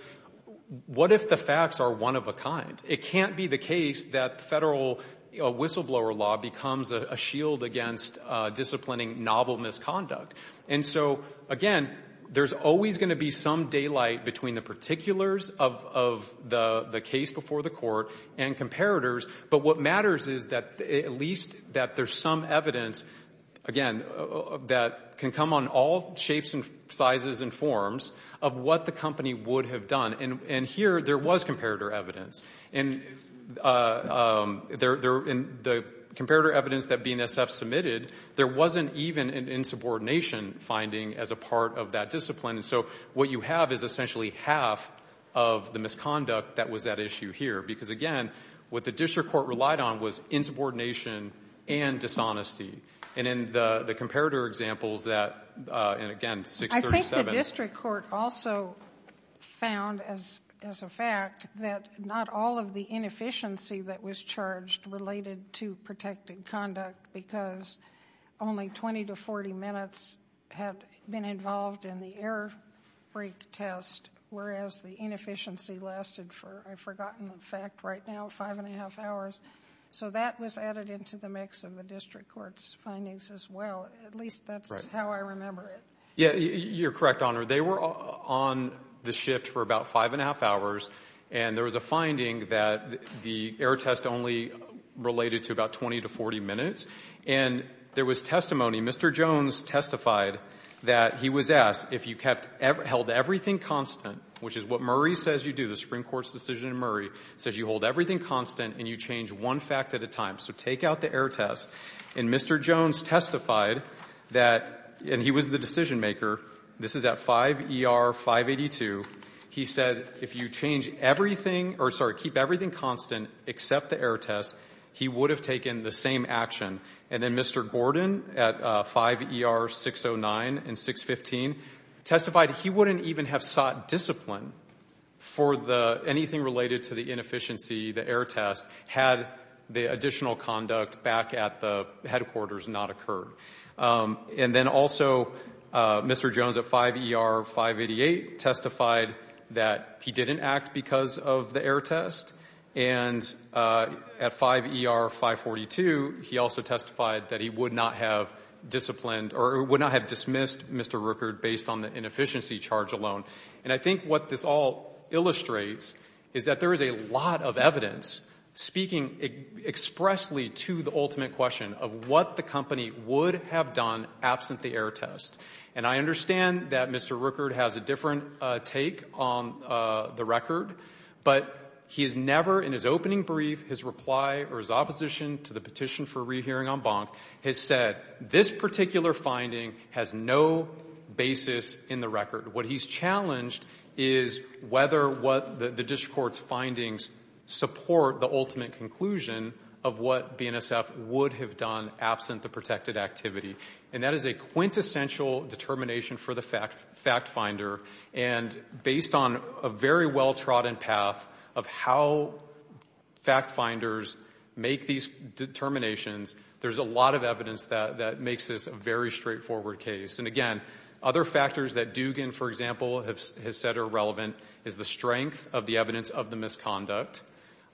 what if the facts are one of a kind? It can't be the case that federal whistleblower law becomes a shield against disciplining novel misconduct. And so, again, there's always going to be some daylight between the particulars of the case before the court and comparators. But what matters is that at least that there's some evidence, again, that can come on all shapes and sizes and forms of what the company would have done. And here there was comparator evidence. And there, in the comparator evidence that BNSF submitted, there wasn't even an insubordination finding as a part of that discipline. And so what you have is essentially half of the misconduct that was at issue here. Because, again, what the district court relied on was insubordination and dishonesty. And in the comparator examples that, and again, 637. I think the district court also found, as a fact, that not all of the inefficiency that was charged related to protected conduct because only 20 to 40 minutes had been involved in the error break test, whereas the inefficiency lasted for, I've forgotten the fact right now, five and a half hours. So that was added into the mix of the district court's findings as well. At least that's how I remember it. Yeah, you're correct, Honor. They were on the shift for about five and a half hours. And there was a finding that the error test only related to about 20 to 40 minutes. And there was testimony. Mr. Jones testified that he was asked if you held everything constant, which is what Murray says you do, the Supreme Court's decision in Murray, says you hold everything constant and you change one fact at a time. So take out the error test. And Mr. Jones testified that, and he was the decision maker, this is at 5 ER 582, he said if you change everything or, sorry, keep everything constant except the error test, he would have taken the same action. And then Mr. Gordon at 5 ER 609 and 615 testified he wouldn't even have sought discipline for the anything related to the inefficiency, the error test, had the additional conduct back at the headquarters not occurred. And then also Mr. Jones at 5 ER 588 testified that he didn't act because of the error test. And at 5 ER 542, he also testified that he would not have disciplined or would not have dismissed Mr. Rueckert based on the inefficiency charge alone. And I think what this all illustrates is that there is a lot of evidence speaking expressly to the ultimate question of what the company would have done absent the error test. And I understand that Mr. Rueckert has a different take on the record, but he has never in his opening brief, his reply or his opposition to the petition for rehearing on Bonk, has said this particular finding has no basis in the record. What he's challenged is whether the district court's findings support the ultimate conclusion of what BNSF would have done absent the protected activity. And that is a quintessential determination for the fact finder. And based on a very well trodden path of how fact finders make these determinations, there's a lot of evidence that makes this a very straightforward case. And again, other factors that Dugan, for example, has said are relevant is the strength of the evidence of the misconduct.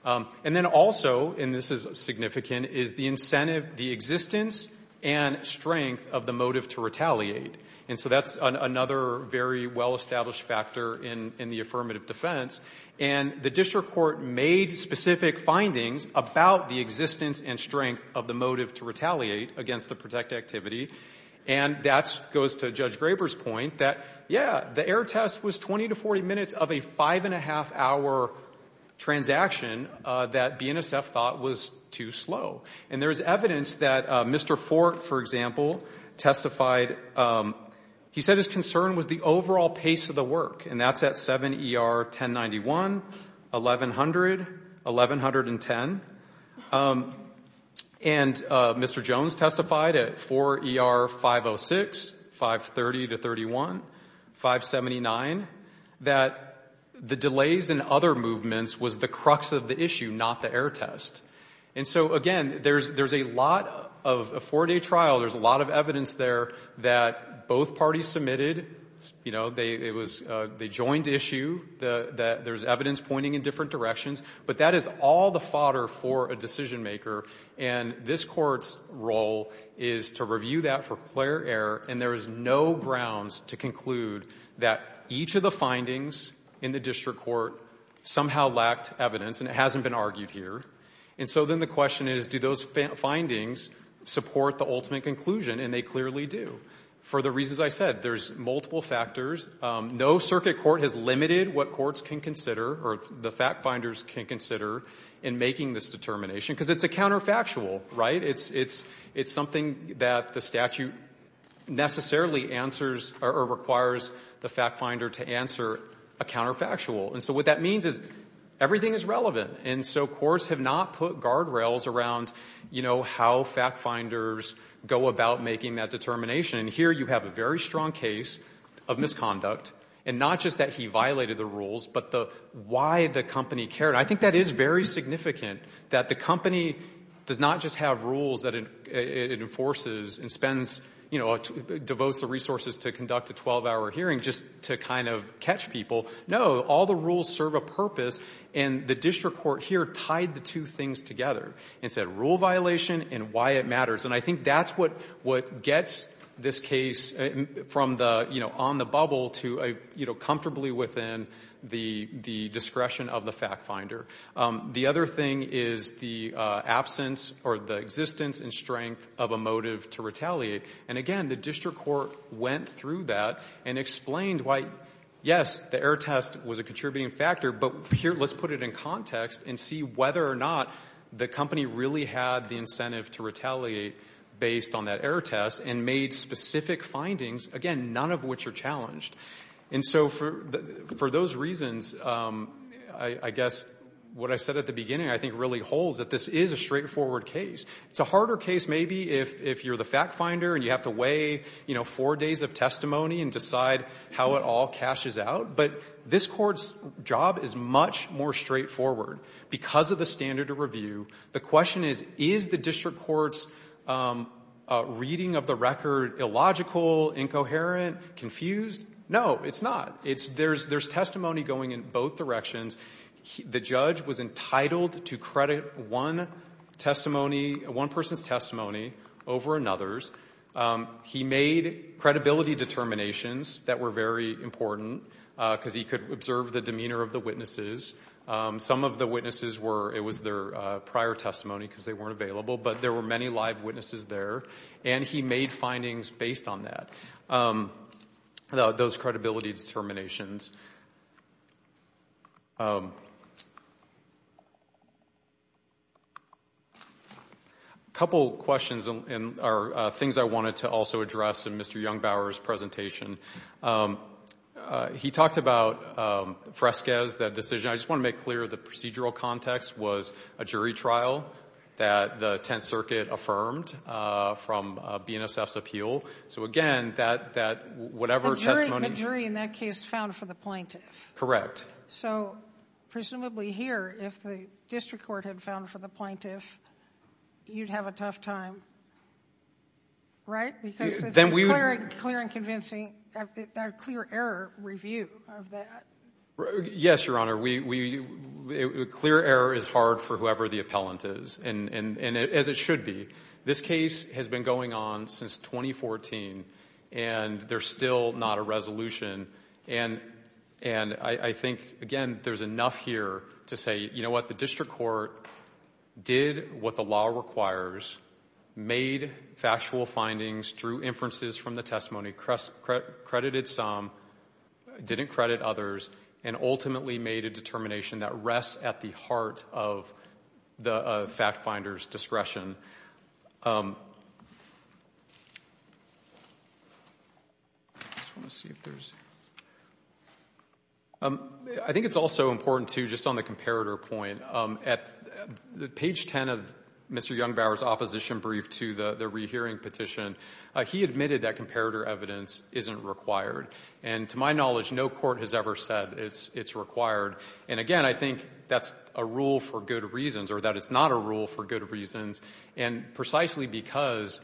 And then also, and this is significant, is the incentive, the existence and strength of the motive to retaliate. And so that's another very well established factor in the affirmative defense. And the district court made specific findings about the existence and strength of the motive to retaliate against the protected activity, and that goes to Judge Graber's point that, yeah, the error test was 20 to 40 minutes of a five-and-a-half-hour transaction that BNSF thought was too slow. And there's evidence that Mr. Fort, for example, testified. He said his concern was the overall pace of the work, and that's at 7 ER 1091, 1100, 1110. And Mr. Jones testified at 4 ER 506, 530 to 31, 579, that the delays in other movements was the crux of the issue, not the error test. And so, again, there's a lot of four-day trial. There's a lot of evidence there that both parties submitted. You know, they joined the issue. There's evidence pointing in different directions. But that is all the fodder for a decision maker. And this court's role is to review that for clear error, and there is no grounds to conclude that each of the findings in the district court somehow lacked evidence, and it hasn't been argued here. And so then the question is, do those findings support the ultimate conclusion? And they clearly do. For the reasons I said, there's multiple factors. No circuit court has limited what courts can consider or the fact-finders can consider in making this determination, because it's a counterfactual, right? It's something that the statute necessarily answers or requires the fact-finder to answer a counterfactual. And so what that means is everything is relevant. And so courts have not put guardrails around, you know, how fact-finders go about making that determination. And here you have a very strong case of misconduct, and not just that he violated the rules, but why the company cared. I think that is very significant, that the company does not just have rules that it enforces and spends, you know, devotes the resources to conduct a 12-hour hearing just to kind of catch people. No, all the rules serve a purpose, and the district court here tied the two things together and said rule violation and why it matters. And I think that's what gets this case from the, you know, on the bubble to, you know, comfortably within the discretion of the fact-finder. The other thing is the absence or the existence and strength of a motive to retaliate. And, again, the district court went through that and explained why, yes, the error test was a contributing factor, but here let's put it in context and see whether or not the company really had the incentive to retaliate based on that error test and made specific findings, again, none of which are challenged. And so for those reasons, I guess what I said at the beginning, I think really holds that this is a straightforward case. It's a harder case maybe if you're the fact-finder and you have to weigh, you know, four days of testimony and decide how it all cashes out. But this court's job is much more straightforward because of the standard of review. The question is, is the district court's reading of the record illogical, incoherent, confused? No, it's not. There's testimony going in both directions. The judge was entitled to credit one testimony, one person's testimony over another's. He made credibility determinations that were very important because he could observe the demeanor of the witnesses. Some of the witnesses were, it was their prior testimony because they weren't available, but there were many live witnesses there, and he made findings based on that, those credibility determinations. A couple questions are things I wanted to also address in Mr. Jungbauer's presentation. He talked about Fresquez, that decision. I just want to make clear the procedural context was a jury trial that the Tenth Circuit affirmed from BNSF's appeal. So again, that whatever testimony... The jury in that case found for the plaintiff. Correct. So presumably here, if the district court had found for the plaintiff, you'd have a tough time, right? Right, because it's a clear and convincing, a clear error review of that. Yes, Your Honor. A clear error is hard for whoever the appellant is, and as it should be. This case has been going on since 2014, and there's still not a resolution. And I think, again, there's enough here to say, you know what, the district court did what the law requires, made factual findings, drew inferences from the testimony, credited some, didn't credit others, and ultimately made a determination that rests at the heart of the fact finder's discretion. I just want to see if there's... I think it's also important, too, just on the comparator point, that at page 10 of Mr. Jungbauer's opposition brief to the rehearing petition, he admitted that comparator evidence isn't required. And to my knowledge, no court has ever said it's required. And, again, I think that's a rule for good reasons, or that it's not a rule for good reasons, and precisely because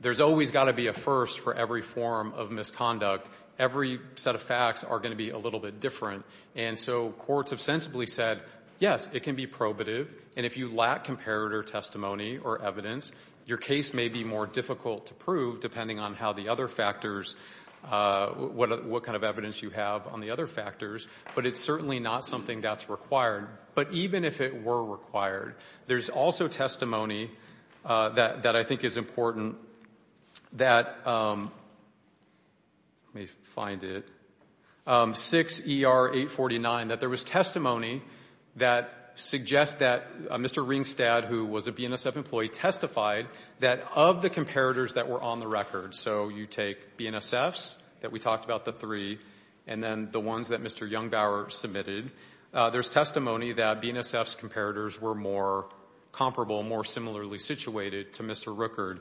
there's always got to be a first for every form of misconduct, every set of facts are going to be a little bit different. And so courts have sensibly said, yes, it can be probative, and if you lack comparator testimony or evidence, your case may be more difficult to prove, depending on how the other factors... what kind of evidence you have on the other factors, but it's certainly not something that's required. But even if it were required, there's also testimony that I think is important that... Let me find it. 6 ER 849, that there was testimony that suggests that Mr. Ringstad, who was a BNSF employee, testified that of the comparators that were on the record, so you take BNSF's, that we talked about the three, and then the ones that Mr. Jungbauer submitted, there's testimony that BNSF's comparators were more comparable, more similarly situated to Mr. Rueckert.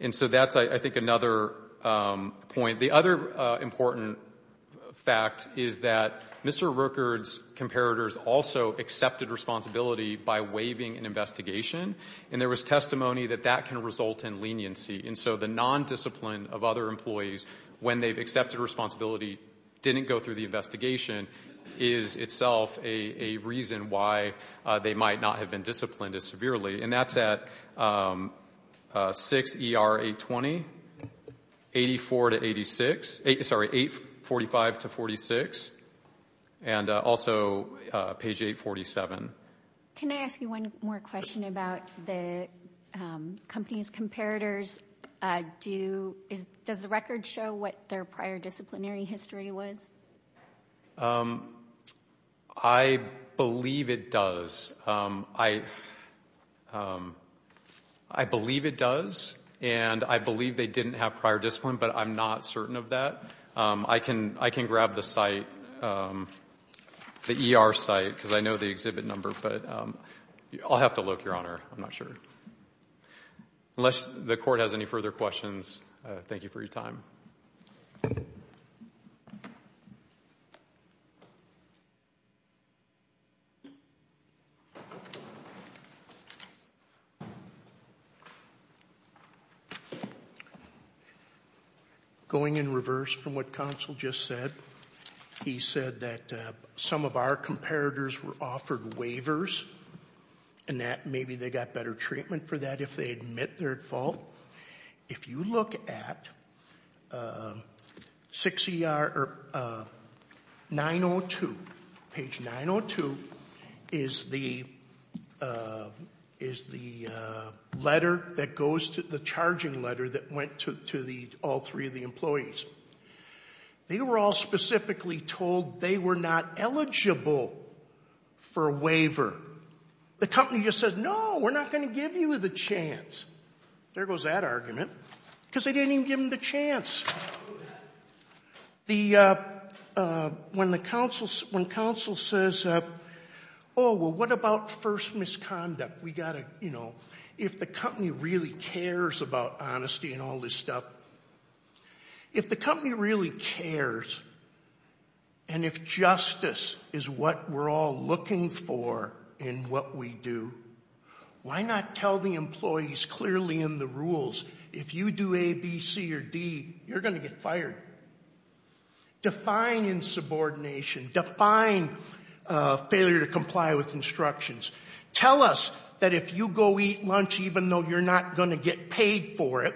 And so that's, I think, another point. The other important fact is that Mr. Rueckert's comparators also accepted responsibility by waiving an investigation, and there was testimony that that can result in leniency. And so the non-discipline of other employees when they've accepted responsibility didn't go through the investigation is itself a reason why they might not have been disciplined as severely. And that's at 6 ER 820, 84 to 86, sorry, 845 to 46, and also page 847. Can I ask you one more question about the company's comparators? Does the record show what their prior disciplinary history was? I believe it does. I believe it does, and I believe they didn't have prior discipline, but I'm not certain of that. I can grab the site, the ER site, because I know the exhibit number, but I'll have to look, Your Honor. I'm not sure. Unless the Court has any further questions, thank you for your time. Going in reverse from what counsel just said, he said that some of our comparators were offered waivers, and that maybe they got better treatment for that if they admit their fault. If you look at 6 ER 902, page 902 is the letter that goes to the charging letter that went to all three of the employees. They were all specifically told they were not eligible for a waiver. The company just said, no, we're not going to give you the chance. There goes that argument, because they didn't even give them the chance. When counsel says, oh, well, what about first misconduct? If the company really cares about honesty and all this stuff, if the company really cares, and if justice is what we're all looking for in what we do, why not tell the employees clearly in the rules, if you do A, B, C, or D, you're going to get fired. Define insubordination. Define failure to comply with instructions. Tell us that if you go eat lunch even though you're not going to get paid for it,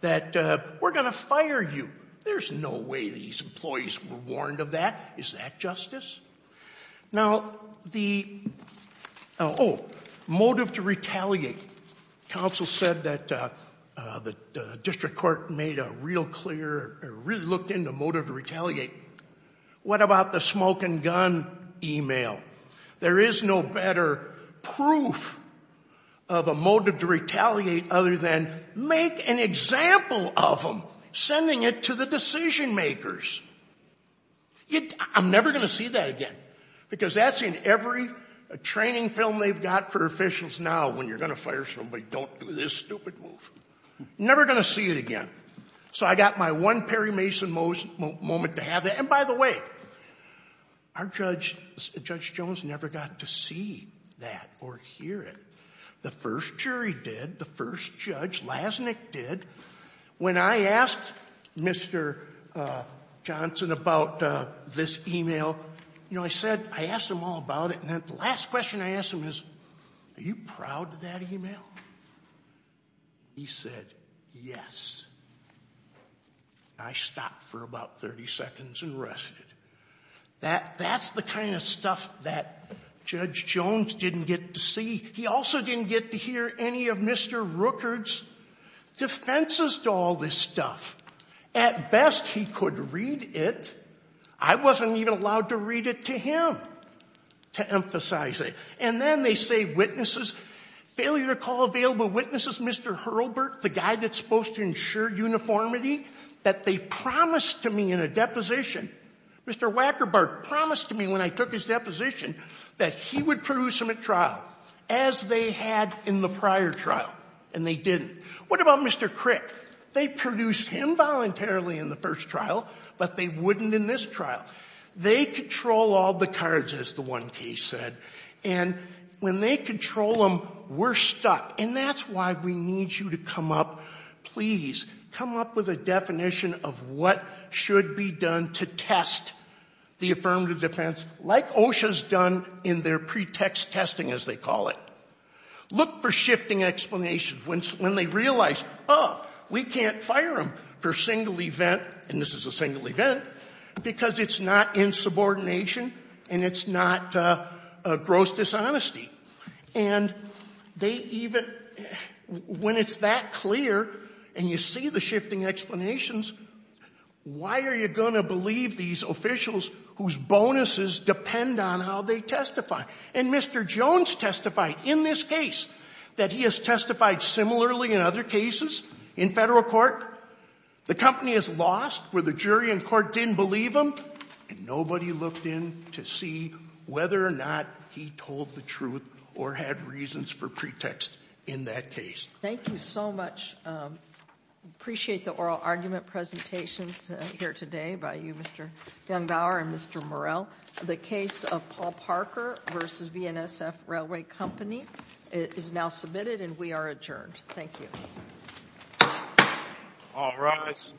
that we're going to fire you. There's no way these employees were warned of that. Is that justice? Now, the motive to retaliate. Counsel said that the district court made a real clear, really looked into motive to retaliate. What about the smoke and gun email? There is no better proof of a motive to retaliate other than make an example of them, sending it to the decision makers. I'm never going to see that again because that's in every training film they've got for officials now when you're going to fire somebody, don't do this stupid move. Never going to see it again. So I got my one Perry Mason moment to have that. And by the way, our judge, Judge Jones, never got to see that or hear it. The first jury did. The first judge, Lassnick, did. When I asked Mr. Johnson about this email, you know, I said, I asked him all about it. And then the last question I asked him is, are you proud of that email? He said, yes. I stopped for about 30 seconds and rested. That's the kind of stuff that Judge Jones didn't get to see. He also didn't get to hear any of Mr. Rueckert's defenses to all this stuff. At best, he could read it. I wasn't even allowed to read it to him to emphasize it. And then they say witnesses, failure to call available witnesses, this is Mr. Hurlbert, the guy that's supposed to ensure uniformity, that they promised to me in a deposition, Mr. Wackerbart promised to me when I took his deposition, that he would produce him at trial, as they had in the prior trial. And they didn't. What about Mr. Crick? They produced him voluntarily in the first trial, but they wouldn't in this trial. They control all the cards, as the one case said. And when they control them, we're stuck. And that's why we need you to come up, please, come up with a definition of what should be done to test the affirmative defense, like OSHA's done in their pretext testing, as they call it. Look for shifting explanations when they realize, oh, we can't fire him for a single event, and this is a single event, because it's not in subordination and it's not gross dishonesty. And they even, when it's that clear and you see the shifting explanations, why are you going to believe these officials whose bonuses depend on how they testify? And Mr. Jones testified in this case that he has testified similarly in other cases in Federal court. The company is lost where the jury in court didn't believe him, and nobody looked in to see whether or not he told the truth or had reasons for pretext in that case. Thank you so much. Appreciate the oral argument presentations here today by you, Mr. Jungbauer and Mr. Morell. The case of Paul Parker v. VNSF Railway Company is now submitted and we are adjourned. Thank you. All rise.